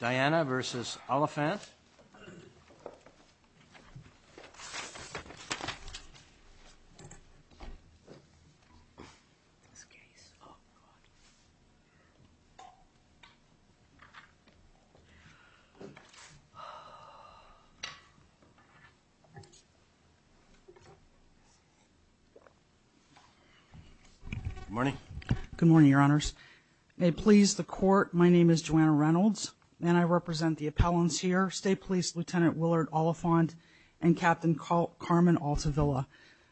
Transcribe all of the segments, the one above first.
Diana versus Oliphant. Good morning. Good morning, Your Honors. May it please the Court. My name is Joanna Reynolds and I represent the appellants here, State Police Lieutenant Willard Oliphant and Captain Carmen Altavilla.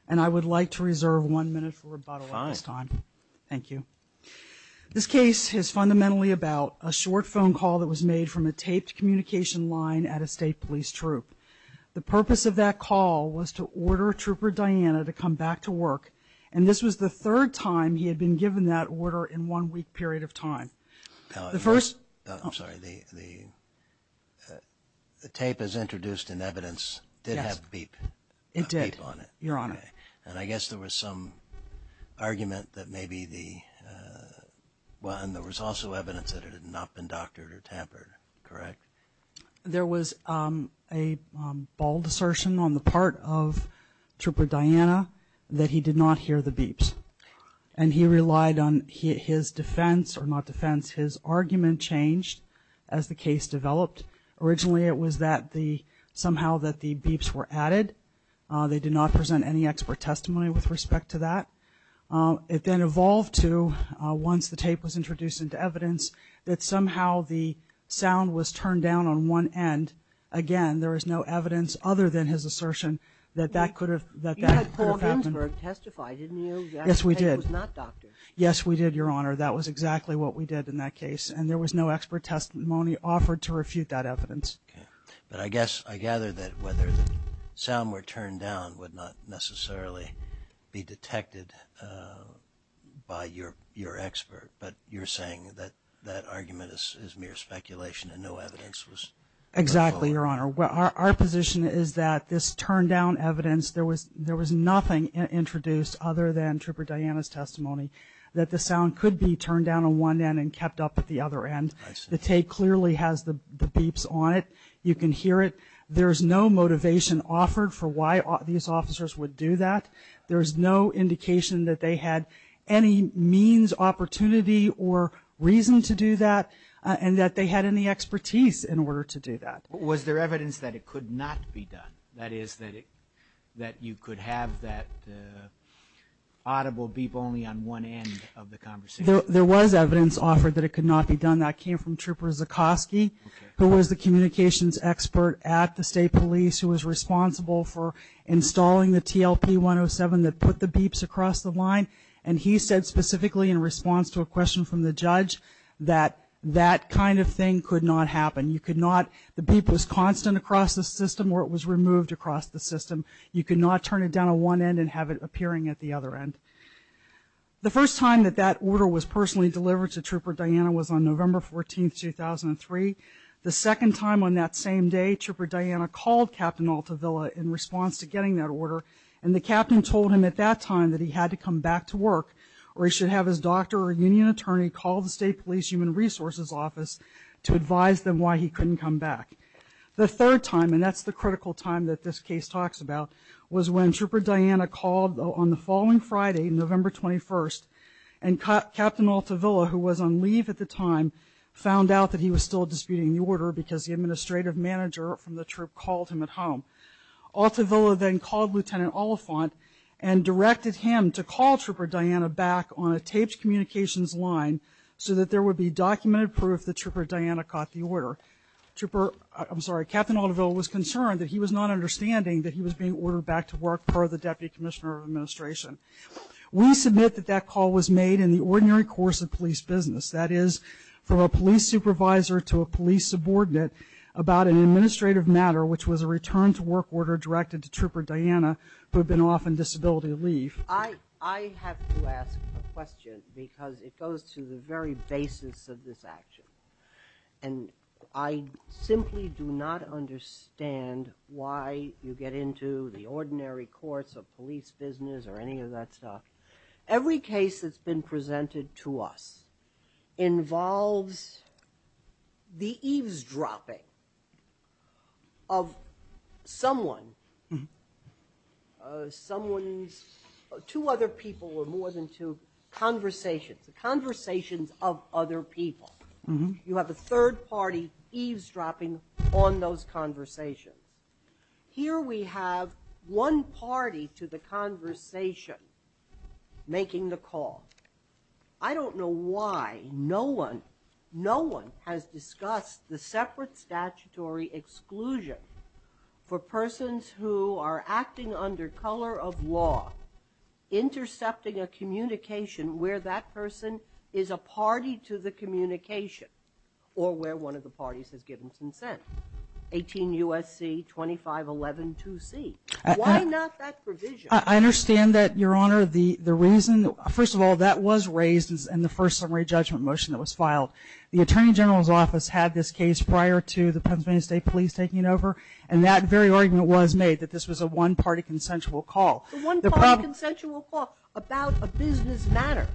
And I would like to reserve one minute for rebuttal at this time. Thank you. This case is fundamentally about a short phone call that was made from a taped communication line at a State Police Troop. The purpose of that call was to order Trooper Diana to come back to work. And this was the third time he had been given that order in one week period of time. The first, I'm sorry, the the tape is introduced in evidence did have beep. It did, Your Honor. And I guess there was some argument that maybe the, well, and there was also evidence that it had not been doctored or tampered, correct? There was a bald assertion on the part of Trooper Diana that he did not hear the beeps and he relied on his defense or not argument changed as the case developed. Originally, it was that the somehow that the beeps were added. They did not present any expert testimony with respect to that. It then evolved to once the tape was introduced into evidence that somehow the sound was turned down on one end. Again, there is no evidence other than his assertion that that could have, that that could have happened. You had Paul Ginsberg testify, didn't you? Yes, we did. The tape was not doctored. Yes, we did, Your Honor. That was exactly what we did in that case. And there was no expert testimony offered to refute that evidence. But I guess I gather that whether the sound were turned down would not necessarily be detected by your expert, but you're saying that that argument is mere speculation and no evidence was. Exactly, Your Honor. Well, our position is that this turned down evidence, there was nothing introduced other than Trooper Diana's testimony that the sound could be turned down on one end and kept up at the other end. The tape clearly has the beeps on it. You can hear it. There's no motivation offered for why these officers would do that. There's no indication that they had any means, opportunity or reason to do that and that they had any expertise in order to do that. Was there evidence that it could not be done? That is that it, that you could have that audible beep only on one end of the conversation. There was evidence offered that it could not be done. That came from Trooper Zukoski, who was the communications expert at the State Police, who was responsible for installing the TLP-107 that put the beeps across the line. And he said specifically in response to a question from the judge that that kind of thing could not happen. You could not, the beep was constant across the system or it was removed across the system. You could not turn it down on one end and have it appearing at the other end. The first time that that order was personally delivered to Trooper Diana was on November 14, 2003. The second time on that same day, Trooper Diana called Captain Altavilla in response to getting that order and the captain told him at that time that he had to come back to work or he should have his doctor or union attorney call the State Police Human Resources Office to advise them why he couldn't come back. The third time, and that's the critical time that this case talks about, was when Trooper Diana called on the following Friday, November 21, and Captain Altavilla, who was on leave at the time, found out that he was still disputing the order because the administrative manager from the Troop called him at home. Altavilla then called Lieutenant Oliphant and directed him to call Trooper Diana back on a taped communications line so that there would be documented proof that Trooper Diana caught the order. Trooper, I'm sorry, Captain Altavilla was concerned that he was not understanding that he was being ordered back to work per the Deputy Commissioner of Administration. We submit that that call was made in the ordinary course of police business. That is, from a police supervisor to a police subordinate about an administrative matter, which was a return to work order directed to Trooper Diana, who had been off on disability leave. I have to ask a question because it goes to the very basis of this action. And I simply do not understand why you get into the ordinary course of police business or any of that stuff. Every case that's been presented to us involves the eavesdropping of someone, someone's, two other people or more than two conversations, the conversations of other people. You have a third party eavesdropping on those conversations. Here we have one party to the conversation making the call. I don't know why no one, no one has discussed the separate statutory exclusion for persons who are acting under color of law, intercepting a communication where that person is a party to the communication or where one of the parties has given consent. 18 U.S.C., 2511-2C. Why not that provision? I understand that, Your Honor. The reason, first of all, that was raised in the first summary judgment motion that was filed. The Attorney General's Office had this case prior to the Pennsylvania State Police taking over and that very argument was made that this was a one-party consensual call. The one-party consensual call about a business matter.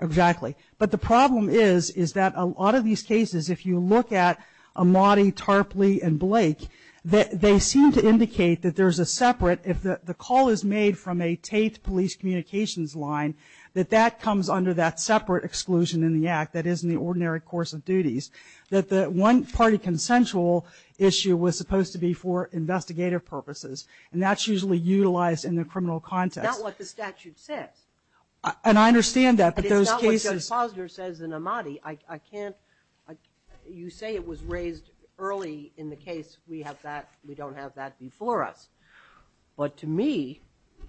Exactly. But the problem is, is that a lot of these cases, if you look at Amati, Tarpley, and Blake, they seem to indicate that there's a separate, if the call is made from a Tate police communications line, that that comes under that separate exclusion in the act that isn't the ordinary course of duties. That the one-party consensual issue was supposed to be for investigative purposes and that's usually utilized in the criminal context. That's not what the statute says. And I understand that, but those cases. It's not what Judge Posner says in Amati. I can't, you say it was raised early in the case. We have that, we don't have that before us. But to me,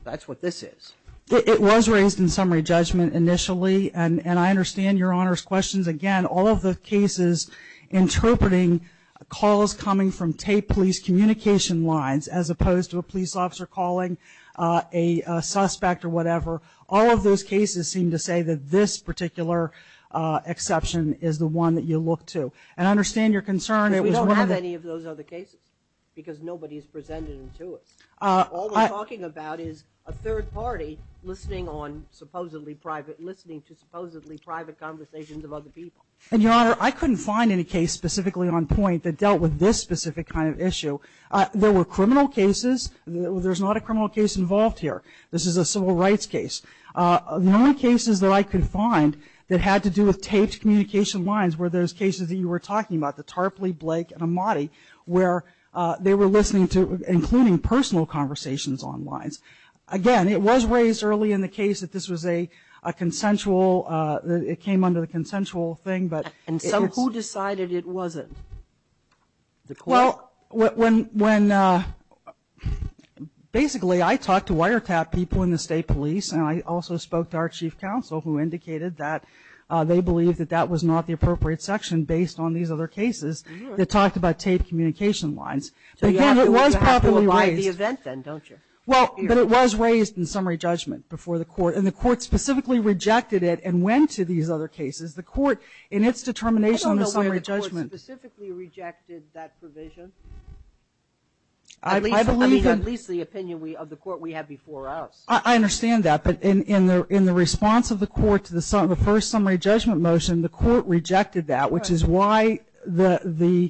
that's what this is. It was raised in summary judgment initially and I understand Your Honor's questions. Again, all of the cases interpreting calls coming from Tate police communication lines, as opposed to a police officer calling a suspect or whatever. All of those cases seem to say that this particular exception is the one that you look to. And I understand your concern. We don't have any of those other cases because nobody's presented them to us. All we're talking about is a third party listening to supposedly private conversations of other people. And Your Honor, I couldn't find any case specifically on point that dealt with this specific kind of issue. There were criminal cases. There's not a criminal case involved here. This is a civil rights case. The only cases that I could find that had to do with Tate communication lines were those cases that you were talking about, the Tarpley, Blake and Amati, where they were listening to including personal conversations on lines. Again, it was raised early in the case that this was a consensual, it came under the consensual thing. And so who decided it wasn't? Well, when basically I talked to wiretap people in the state police and I also spoke to our chief counsel who indicated that they believe that that was not the appropriate section based on these other cases that talked about Tate communication lines. But again, it was properly raised. So you have to apply the event then, don't you? Well, but it was raised in summary judgment before the court and the court specifically rejected it and went to these other cases. The court in its determination on the summary judgment. The court specifically rejected that provision? At least the opinion of the court we had before us. I understand that. But in the response of the court to the first summary judgment motion, the court rejected that, which is why the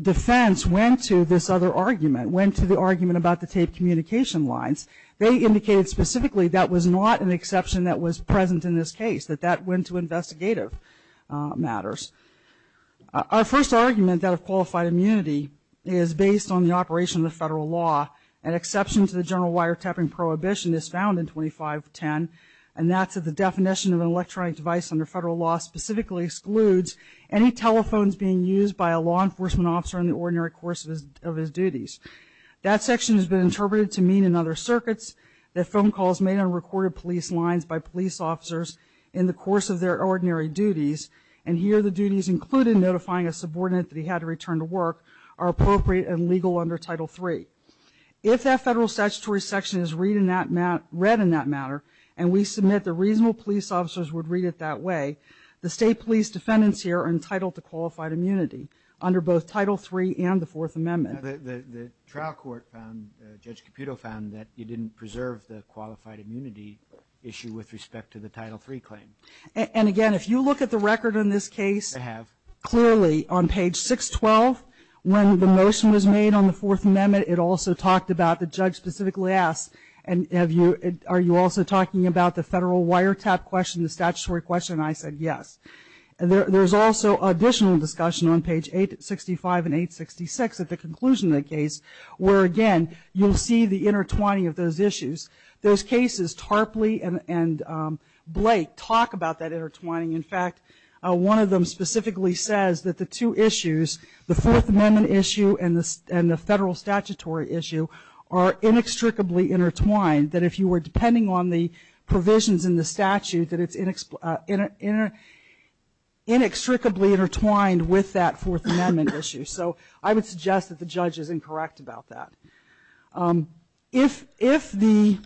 defense went to this other argument, went to the argument about the Tate communication lines. They indicated specifically that was not an exception that was present in this case, that that went to investigative matters. Our first argument that of qualified immunity is based on the operation of the federal law. An exception to the general wiretapping prohibition is found in 2510 and that's at the definition of an electronic device under federal law specifically excludes any telephones being used by a law enforcement officer in the ordinary course of his duties. That section has been interpreted to mean in other circuits that phone calls made on recorded police lines by police officers in the course of their ordinary duties and here the duties included notifying a subordinate that he had to return to work are appropriate and legal under title three. If that federal statutory section is read in that matter and we submit the reasonable police officers would read it that way, the state police defendants here are entitled to qualified immunity under both title three and the Fourth Amendment. The trial court found, Judge Caputo found, that you didn't preserve the qualified immunity issue with respect to the title three claim. And again, if you look at the record in this case, clearly on page 612 when the motion was made on the Fourth Amendment it also talked about the judge specifically asked and have you, are you also talking about the federal wiretap question, the statutory question? I said yes. There's also additional discussion on page 865 and 866 at the conclusion of the case where again, you'll see the intertwining of those issues. Those cases Tarpley and Blake talk about that intertwining. In fact, one of them specifically says that the two issues, the Fourth Amendment issue and the federal statutory issue are inextricably intertwined that if you were depending on the provisions in the statute that it's inextricably intertwined with that Fourth Amendment issue. So I would suggest that the judge is incorrect about that. If the,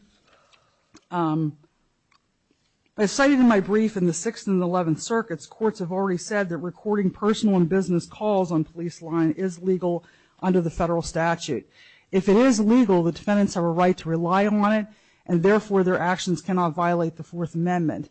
I cited in my brief in the Sixth and Eleventh Circuits, courts have already said that recording personal and business calls on police line is legal under the federal statute. If it is legal, the defendants have a right to rely on it and therefore their actions cannot violate the Fourth Amendment.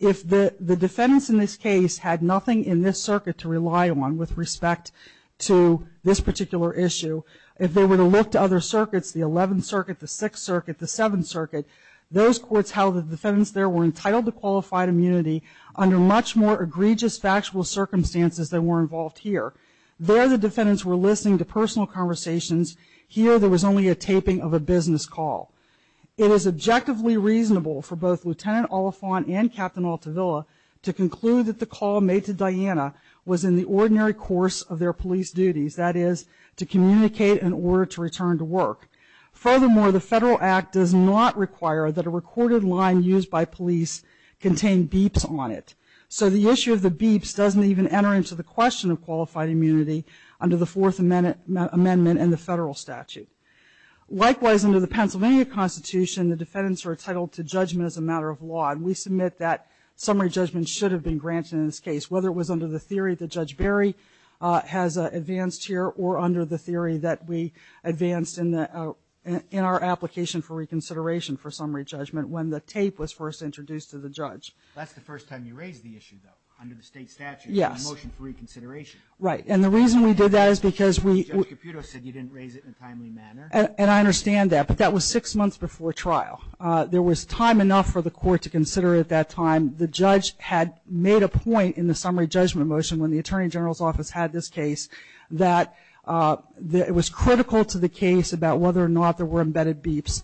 If the defendants in this case had nothing in this circuit to rely on with respect to this particular issue, if they were to look to other circuits, the Eleventh Circuit, the Sixth Circuit, the Seventh Circuit, those courts held the defendants there were entitled to qualified immunity under much more egregious factual circumstances than were involved here. There the defendants were listening to personal conversations. Here there was only a taping of a business call. It is objectively reasonable for both Lieutenant Oliphant and Captain Altavilla to conclude that the call made to Diana was in the ordinary course of their police duties, that is, to communicate in order to return to work. Furthermore, the Federal Act does not require that a recorded line used by police contain beeps on it. So the issue of the beeps doesn't even enter into the question of qualified immunity under the Fourth Amendment and the federal statute. Likewise, under the Pennsylvania Constitution, the defendants are entitled to judgment as a matter of law. And we submit that summary judgment should have been granted in this case, whether it was under the theory that we advanced here or under the theory that we advanced in our application for reconsideration for summary judgment when the tape was first introduced to the judge. That's the first time you raised the issue, though, under the state statute. Yes. Motion for reconsideration. Right. And the reason we did that is because we. Judge Caputo said you didn't raise it in a timely manner. And I understand that, but that was six months before trial. There was time enough for the court to consider at that time. The judge had made a point in the summary judgment motion when the that it was critical to the case about whether or not there were embedded beeps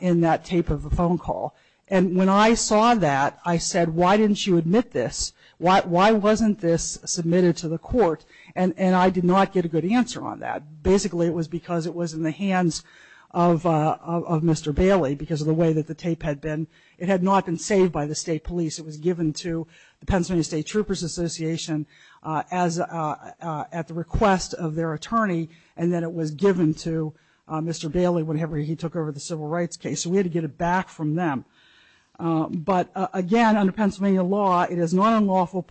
in that tape of a phone call. And when I saw that, I said, why didn't you admit this? Why wasn't this submitted to the court? And I did not get a good answer on that. Basically, it was because it was in the hands of Mr. Bailey because of the way that the tape had been. It had not been saved by the state police. It was given to the Pennsylvania State Troopers Association as at the request of their attorney. And then it was given to Mr. Bailey whenever he took over the civil rights case. So we had to get it back from them. But again, under Pennsylvania law, it is not unlawful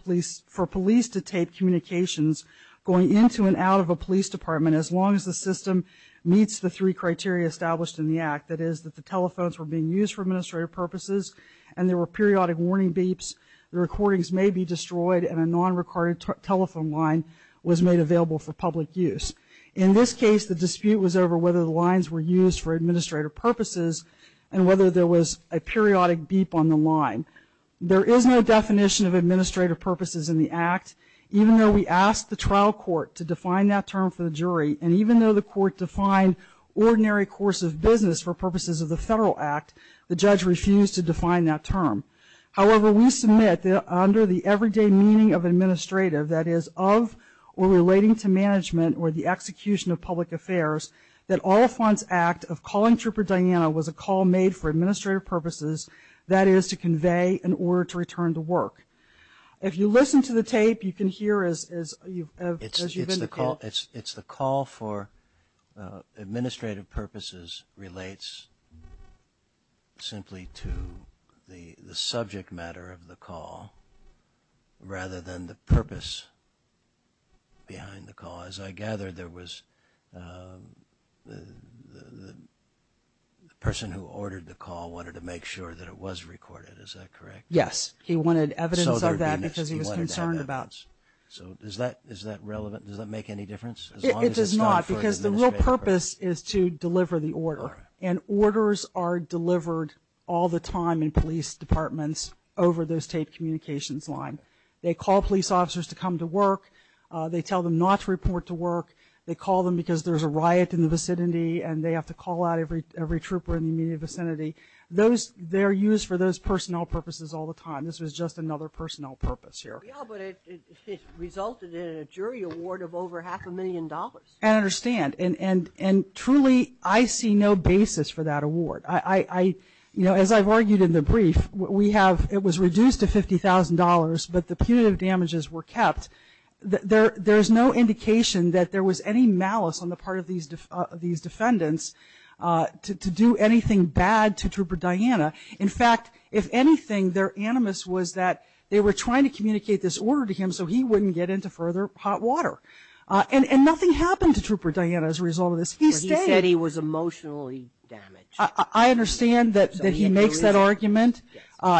for police to tape communications going into and out of a police department as long as the system meets the three criteria established in the act. That is that the telephones were being used for administrative purposes and there were periodic warning beeps. The recordings may be destroyed and a non-recorded telephone line was made available for public use. In this case, the dispute was over whether the lines were used for administrative purposes and whether there was a periodic beep on the line. There is no definition of administrative purposes in the act. Even though we asked the trial court to define that term for the jury, and even though the court defined ordinary course of business for purposes of the federal act, the judge refused to define that term. However, we submit that under the everyday meaning of administrative, that is, of or relating to management or the execution of public affairs, that Oliphant's act of calling Trooper Diana was a call made for administrative purposes, that is, to convey an order to return to work. If you listen to the tape, you can hear as you've indicated. It's the call for administrative purposes relates simply to the subject matter of the call rather than the purpose behind the call. As I gather, there was the person who ordered the call wanted to make sure that it was recorded. Is that correct? Yes. He wanted evidence of that because he was concerned about. So is that relevant? Does that make any difference? It does not because the real purpose is to deliver the order and orders are delivered all the time in police departments over those tape communications line. They call police officers to come to work. They tell them not to report to work. They call them because there's a riot in the vicinity and they have to call out every Trooper in the immediate vicinity. They're used for those personnel purposes all the time. This was just another personnel purpose here. But it resulted in a jury award of over half a million dollars. I understand. And truly, I see no basis for that award. As I've argued in the brief, it was reduced to $50,000 but the punitive damages were kept. There's no indication that there was any malice on the part of these defendants to do anything bad to Trooper Diana. In fact, if anything, their animus was that they were trying to communicate this order to him so he wouldn't get into further hot water. And nothing happened to Trooper Diana as a result of this. He stayed. He said he was emotionally damaged. I understand that he makes that argument.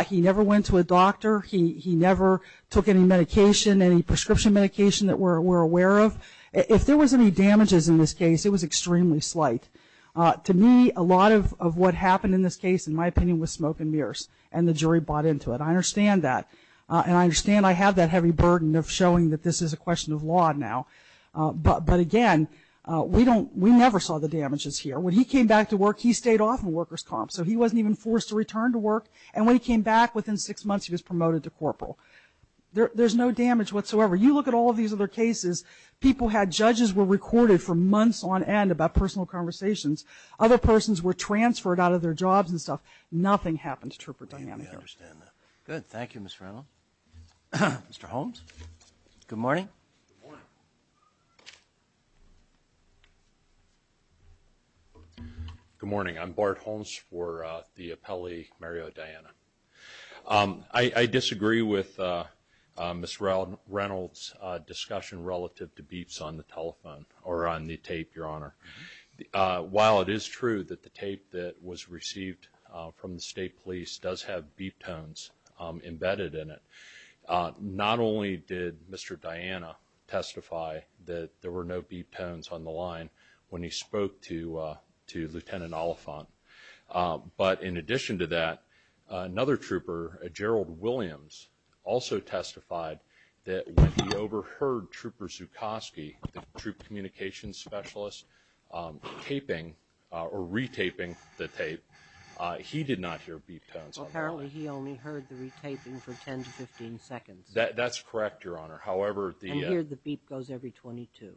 He never went to a doctor. He never took any medication, any prescription medication that we're aware of. If there was any damages in this case, it was extremely slight. To me, a lot of what happened in this case, in my opinion, was smoke and mirrors and the jury bought into it. I understand that. And I understand I have that heavy burden of showing that this is a question of law now. But again, we never saw the damages here. When he came back to work, he stayed off of workers' comp. So he wasn't even forced to return to work. And when he came back, within six months, he was promoted to corporal. There's no damage whatsoever. You look at all of these other cases, people had, judges were recorded for months on end about personal conversations. Other persons were transferred out of their jobs and stuff. Nothing happened to Trooper Diana here. Good. Thank you, Mr. Reynolds. Mr. Holmes, good morning. Good morning. I'm Bart Holmes for the appellee, Mario Diana. I disagree with Ms. Reynolds' discussion relative to beeps on the telephone or on the tape, Your Honor. While it is true that the tape that was received from the state police does have beep tones embedded in it, not only did Mr. Diana testify that there were no beep tones on the line when he spoke to Lieutenant Oliphant, but in addition to that, another trooper, Gerald Williams, also testified that when he overheard Trooper Zukoski, the troop communications specialist, taping or re-taping the tape, he did not hear beep tones on the line. Apparently he only heard the re-taping for 10 to 15 seconds. That's correct, Your Honor. However, the... And here the beep goes every 22.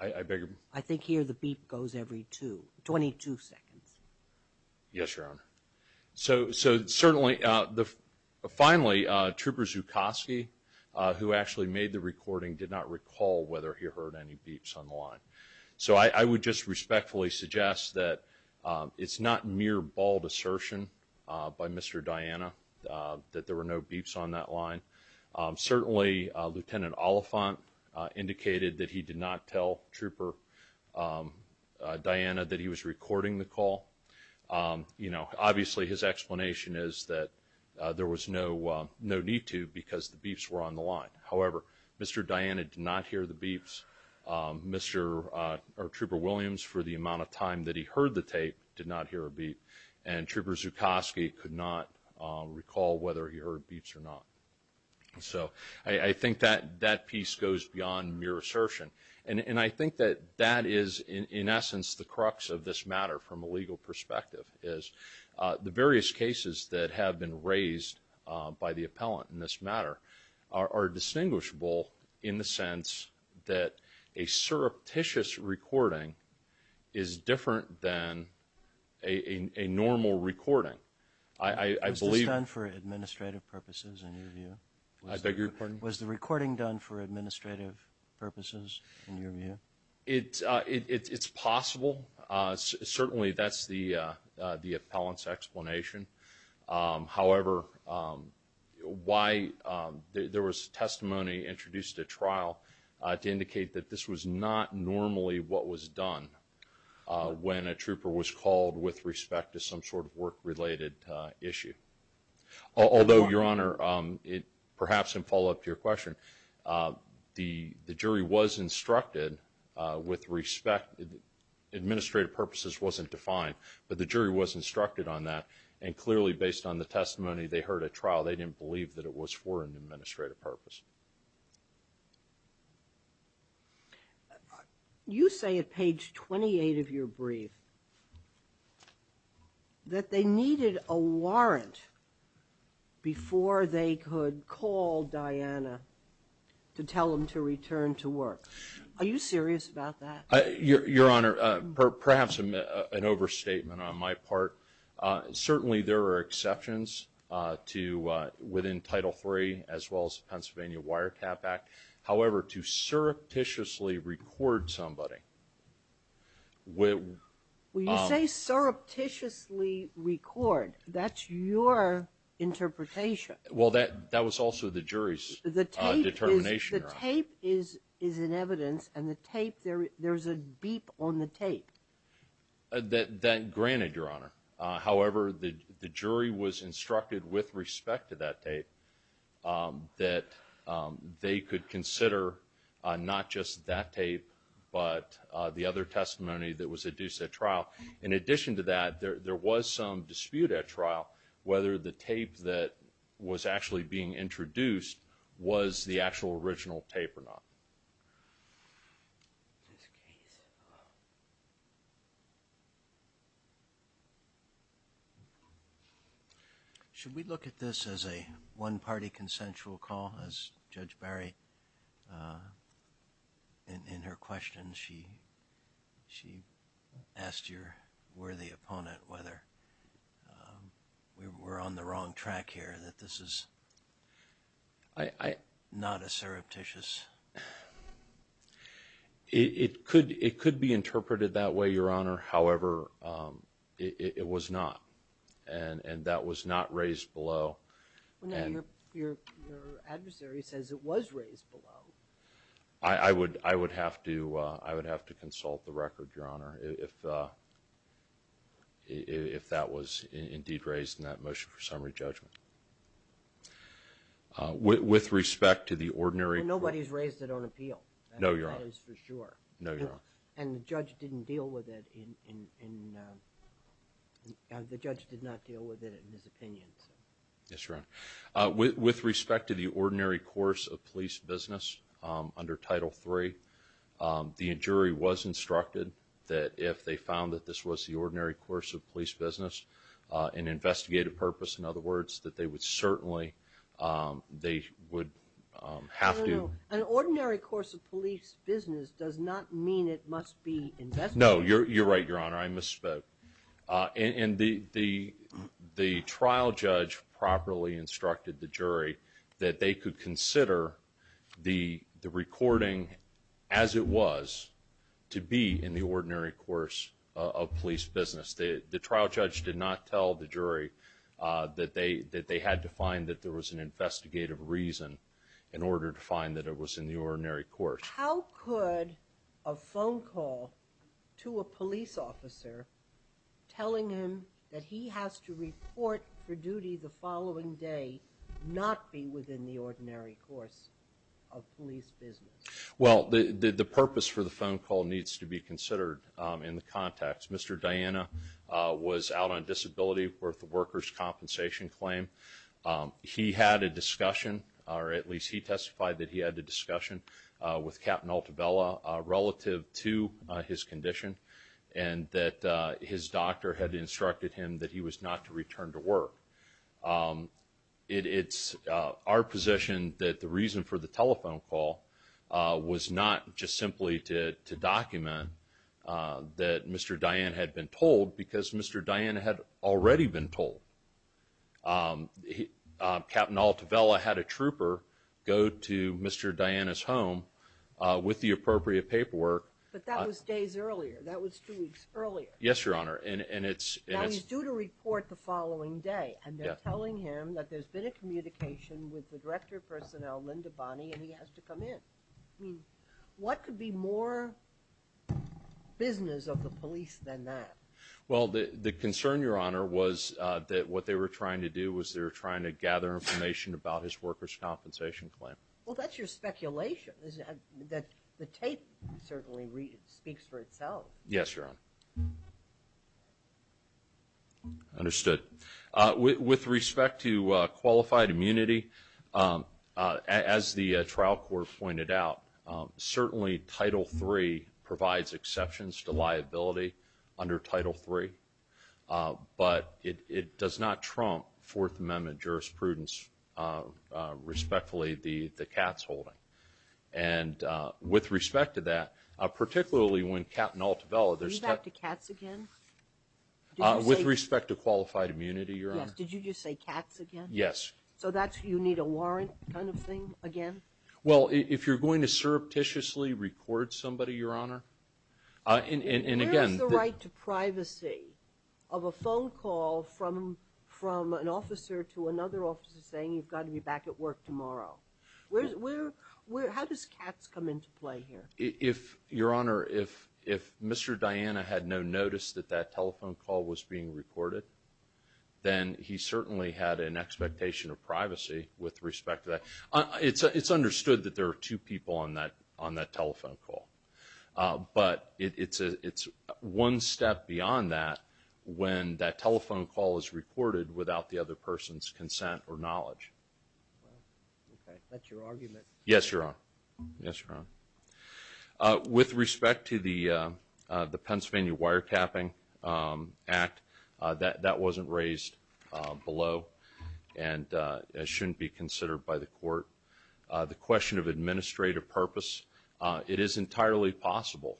I beg your... I think here the beep goes every two, 22 seconds. Yes, Your Honor. So, so certainly the, finally Trooper Zukoski, who actually made the recording, did not recall whether he heard any beeps on the line. So I would just respectfully suggest that it's not mere bald assertion by Mr. Diana that there were no beeps on that line. Certainly, Lieutenant Oliphant indicated that he did not tell Trooper Diana that he was recording the call. You know, obviously his explanation is that there was no, no need to because the beeps were on the line. However, Mr. Diana did not hear the beeps. Mr., or Trooper Williams, for the amount of time that he heard a beep. And Trooper Zukoski could not recall whether he heard beeps or not. So I think that, that piece goes beyond mere assertion. And I think that that is, in essence, the crux of this matter from a legal perspective, is the various cases that have been raised by the appellant in this matter are distinguishable in the sense that a normal recording, I believe. Was this done for administrative purposes in your view? I beg your pardon? Was the recording done for administrative purposes in your view? It's possible. Certainly, that's the appellant's explanation. However, why there was testimony introduced at trial to indicate that this was not normally what was done when a trooper was called with respect to some sort of work-related issue. Although, Your Honor, perhaps in follow-up to your question, the jury was instructed with respect. Administrative purposes wasn't defined, but the jury was instructed on that. And clearly based on the testimony they heard at trial, they didn't believe that it was for an administrative purpose. You say at page 28 of your brief that they needed a warrant before they could call Diana to tell them to return to work. Are you serious about that? Your Honor, perhaps an overstatement on my part. Certainly, there are exceptions to within Title III as well as Pennsylvania Wiretap Act. However, to surreptitiously record somebody. When you say surreptitiously record, that's your interpretation. Well, that was also the jury's determination. The tape is in evidence and there's a beep on the tape. That granted, Your Honor. However, the jury was that they could consider not just that tape, but the other testimony that was adduced at trial. In addition to that, there was some dispute at trial whether the tape that was actually being introduced was the actual original tape or not. Should we look at this as a one-party consensual call as Judge Barry, in her question, she asked your worthy opponent whether we were on the wrong track here that this is not a surreptitious call? It could be interpreted that way, Your Honor. However, it was not and that was not raised below. Your adversary says it was raised below. I would have to consult the record, Your Honor, if that was indeed raised in that motion for summary judgment. With respect to the ordinary... Nobody's raised it on appeal. No, Your Honor. That is for sure. No, Your Honor. And the judge didn't deal with it in... the judge did not deal with it in his opinion. Yes, Your Honor. With respect to the ordinary course of police business under Title III, the jury was instructed that if they found that this was the ordinary course of police business, an investigative purpose, in other words, that they would certainly... they would have to... An ordinary course of police business does not mean it must be investigative. No, you're right, Your Honor. I misspoke. And the trial judge properly instructed the jury that they could consider the recording as it was to be in the ordinary course of police business. The trial judge did not tell the jury that they had to find that there was an investigative reason in order to find that it was in the ordinary course. How could a phone call to a police officer telling him that he has to report for duty the following day not be within the ordinary course of police business? Well, the purpose for the phone call needs to be considered in the context. Mr. Dian was brought on disability worth of workers compensation claim. He had a discussion, or at least he testified that he had a discussion with Captain Altavella relative to his condition and that his doctor had instructed him that he was not to return to work. It's our position that the reason for the telephone call was not just simply to document that Mr. Dian had been told because Mr. Dian had already been told. Captain Altavella had a trooper go to Mr. Dian's home with the appropriate paperwork. But that was days earlier. That was two weeks earlier. Yes, your honor. And it's due to report the following day and they're telling him that there's been a communication with the director of personnel Linda Bonny and he has to come in. I mean, what could be more business of the police than that? Well, the concern, your honor, was that what they were trying to do was they're trying to gather information about his workers compensation claim. Well, that's your speculation is that the tape certainly speaks for itself. Yes, your honor. Understood with respect to qualified immunity as the trial court pointed out, certainly title three provides exceptions to liability under title three. But it does not trump Fourth Amendment jurisprudence. Respectfully, the cat's holding. And with respect to that, particularly when Captain Altavella, there's back to cats again. With respect to qualified immunity, your honor, did you just say cats again? Yes. So that's you need a warrant kind of thing again. Well, if you're going to surreptitiously record somebody, your honor, and again, the right to privacy of a phone call from from an officer to another officer saying you've got to be back at work tomorrow. Where does cats come into play here? If your honor, if Mr. Diana had no notice that that telephone call was being recorded, then he certainly had an expectation of privacy. With respect to that, it's understood that there are two people on that on that telephone call. But it's a it's one step beyond that when that telephone call is recorded without the other person's consent or knowledge. Okay, that's your argument. Yes, your honor. Yes, your honor. With respect to the Pennsylvania Wiretapping Act, that wasn't raised below and shouldn't be considered by the court. The question of administrative purpose, it is entirely possible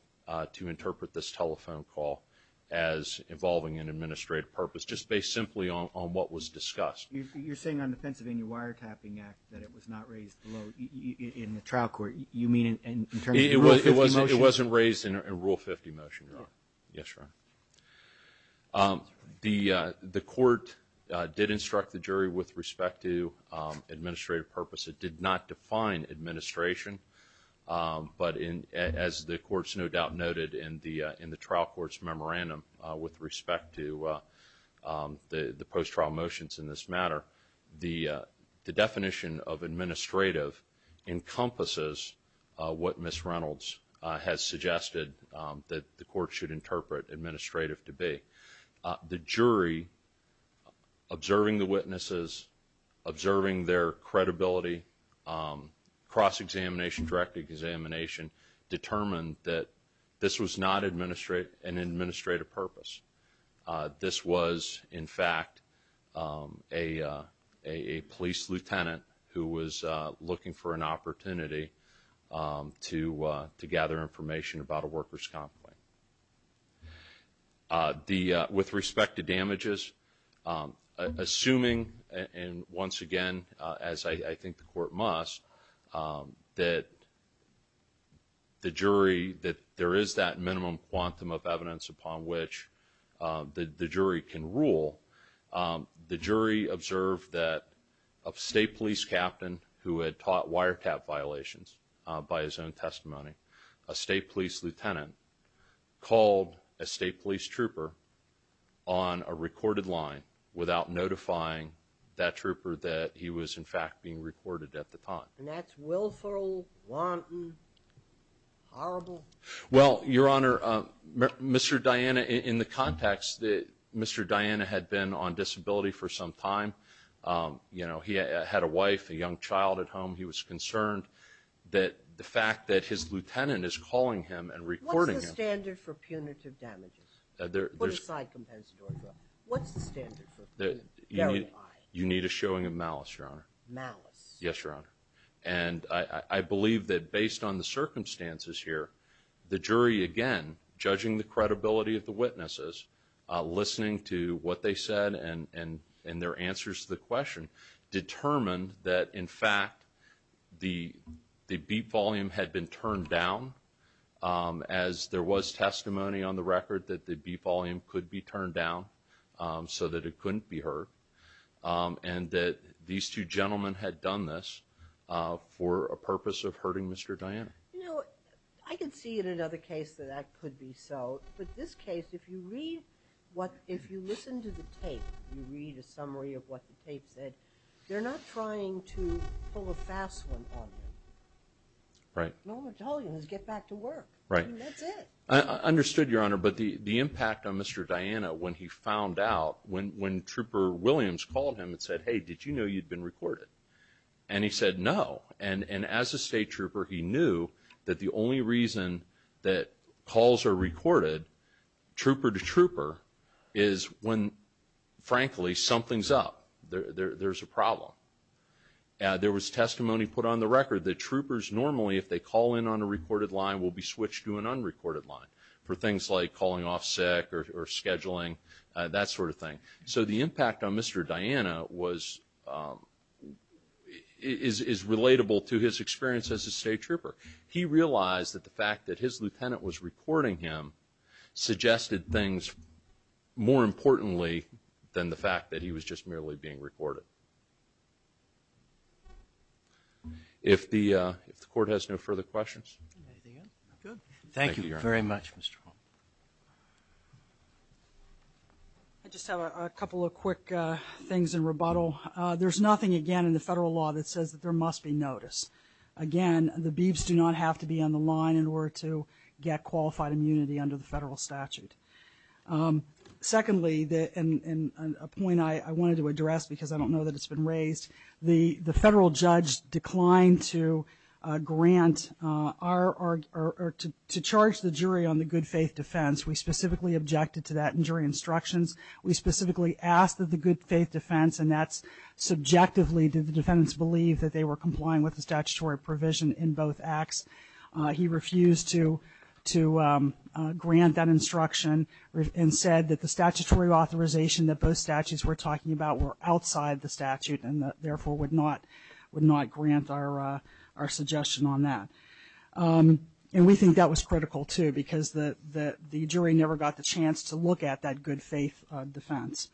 to interpret this telephone call as involving an administrative purpose just based simply on what was discussed. You're saying on the Pennsylvania Wiretapping Act that it was not raised below in the trial court. You mean in terms of Rule 50 motion? It wasn't raised in Rule 50 motion, your honor. Yes, your honor. The court did instruct the jury with respect to administrative purpose. It did not define administration. But in as the court's no doubt noted in the in the trial court's memorandum with respect to the post-trial motions in this matter, the definition of administrative encompasses what Ms. Reynolds has suggested that the court should interpret administrative to be. The jury observing the cross-examination, direct examination, determined that this was not an administrative purpose. This was in fact a police lieutenant who was looking for an opportunity to gather information about a worker's complaint. With respect to damages, assuming and once again, as I think the court must, that the jury that there is that minimum quantum of evidence upon which the jury can rule, the jury observed that a state police captain who had taught wiretap violations by his own testimony, a state police lieutenant called a state police trooper on a recorded line without notifying that trooper that he was in fact being recorded at the time. And that's willful, wanton, horrible? Well, Your Honor, Mr. Diana, in the context that Mr. Diana had been on disability for some time, you know, he had a wife, a young child at home. He was concerned that the fact that his lieutenant is calling him and recording him. What's the standard for punitive damages? Put aside compensatory drug. What's the standard for verifying? You need a showing of malice, Your Honor. Malice. Yes, Your Honor. And I believe that based on the circumstances here, the jury again, judging the credibility of the witnesses, listening to what they said and their answers to the question, determined that in fact the beep volume had been turned down as there was testimony on the record that the beep volume could be turned down so that it couldn't be heard. And that these two gentlemen had done this for a purpose of hurting Mr. Diana. You know, I can see in another case that that could be so. But this case, if you read what, if you listen to the tape, you read a summary of what the tape said, they're not trying to pull a fast one on you. Right. No, I'm telling you, just get back to work. Right. That's it. I understood, Your Honor, but the when he found out, when Trooper Williams called him and said, hey, did you know you'd been recorded? And he said no. And as a state trooper, he knew that the only reason that calls are recorded, trooper to trooper, is when frankly something's up, there's a problem. There was testimony put on the record that troopers normally, if they call in on a recorded line, will be switched to an unrecorded line for things like calling off sick or scheduling, that sort of thing. So the impact on Mr. Diana was, is relatable to his experience as a state trooper. He realized that the fact that his lieutenant was recording him suggested things more importantly than the fact that he was just merely being recorded. If the Court has no further questions. Anything else? Good. Thank you very much, Mr. Hall. I just have a couple of quick things in rebuttal. There's nothing again in the federal law that says that there must be notice. Again, the beefs do not have to be on the line in order to get qualified immunity under the federal statute. Secondly, and a point I wanted to address because I don't know that it's been raised, the federal judge declined to grant or to charge the jury on the good faith defense. We specifically objected to that in jury instructions. We specifically asked that the good faith defense, and that's subjectively did the defendants believe that they were complying with the statutory provision in both acts. He refused to grant that instruction and said that the statutory authorization that both statutes were talking about were outside the statute and therefore would not would not grant our suggestion on that. And we think that was critical too because the jury never got the chance to look at that good faith defense.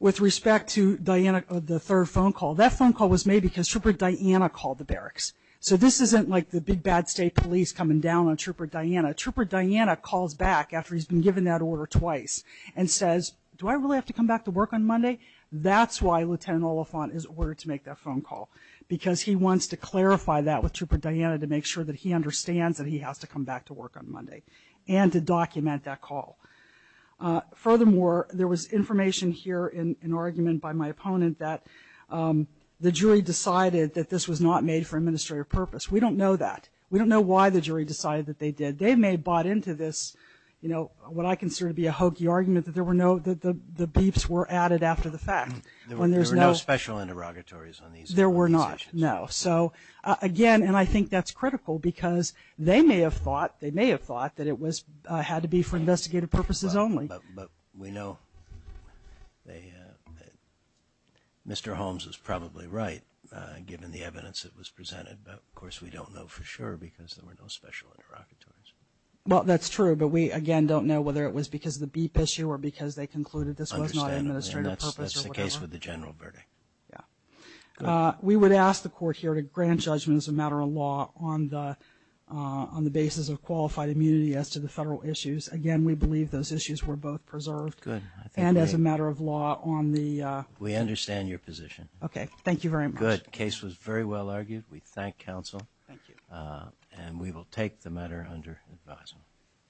With respect to Diana, the third phone call, that phone call was made because Trooper Diana called the barracks. So this isn't like the big bad state police coming down on Trooper Diana. Trooper Diana calls back after he's been given that order twice and says, do I really have to come back to work on Monday? That's why Lieutenant Oliphant is ordered to make that phone call because he wants to clarify that with Trooper Diana to make sure that he understands that he has to come back to work on Monday and to document that call. Furthermore, there was information here in an argument by my opponent that the jury decided that this was not made for administrative purpose. We don't know that. We don't know why the jury decided that they did. They may have bought into this, you know, what I consider to be a hokey argument that there were no that the beeps were added after the fact when there's no special interrogatories on these. There were not. No. So again, and I think that's critical because they may have thought they may have thought that it was had to be for investigative purposes only. But we know they Mr. Holmes is probably right given the evidence that was presented. But of course, we don't know for sure because there were no special interrogatories. Well, that's true. But we again don't know whether it was because the beep issue or because they concluded this was not an administrative purpose case with the general verdict. Yeah, we would ask the court here to grant judgment as a matter of law on the on the basis of qualified immunity as to the federal issues. Again, we believe those issues were both preserved good and as a matter of law on the we understand your position. Okay. Thank you very much. Good case was very well argued. We thank counsel. Thank you. And we will take the matter under advisement.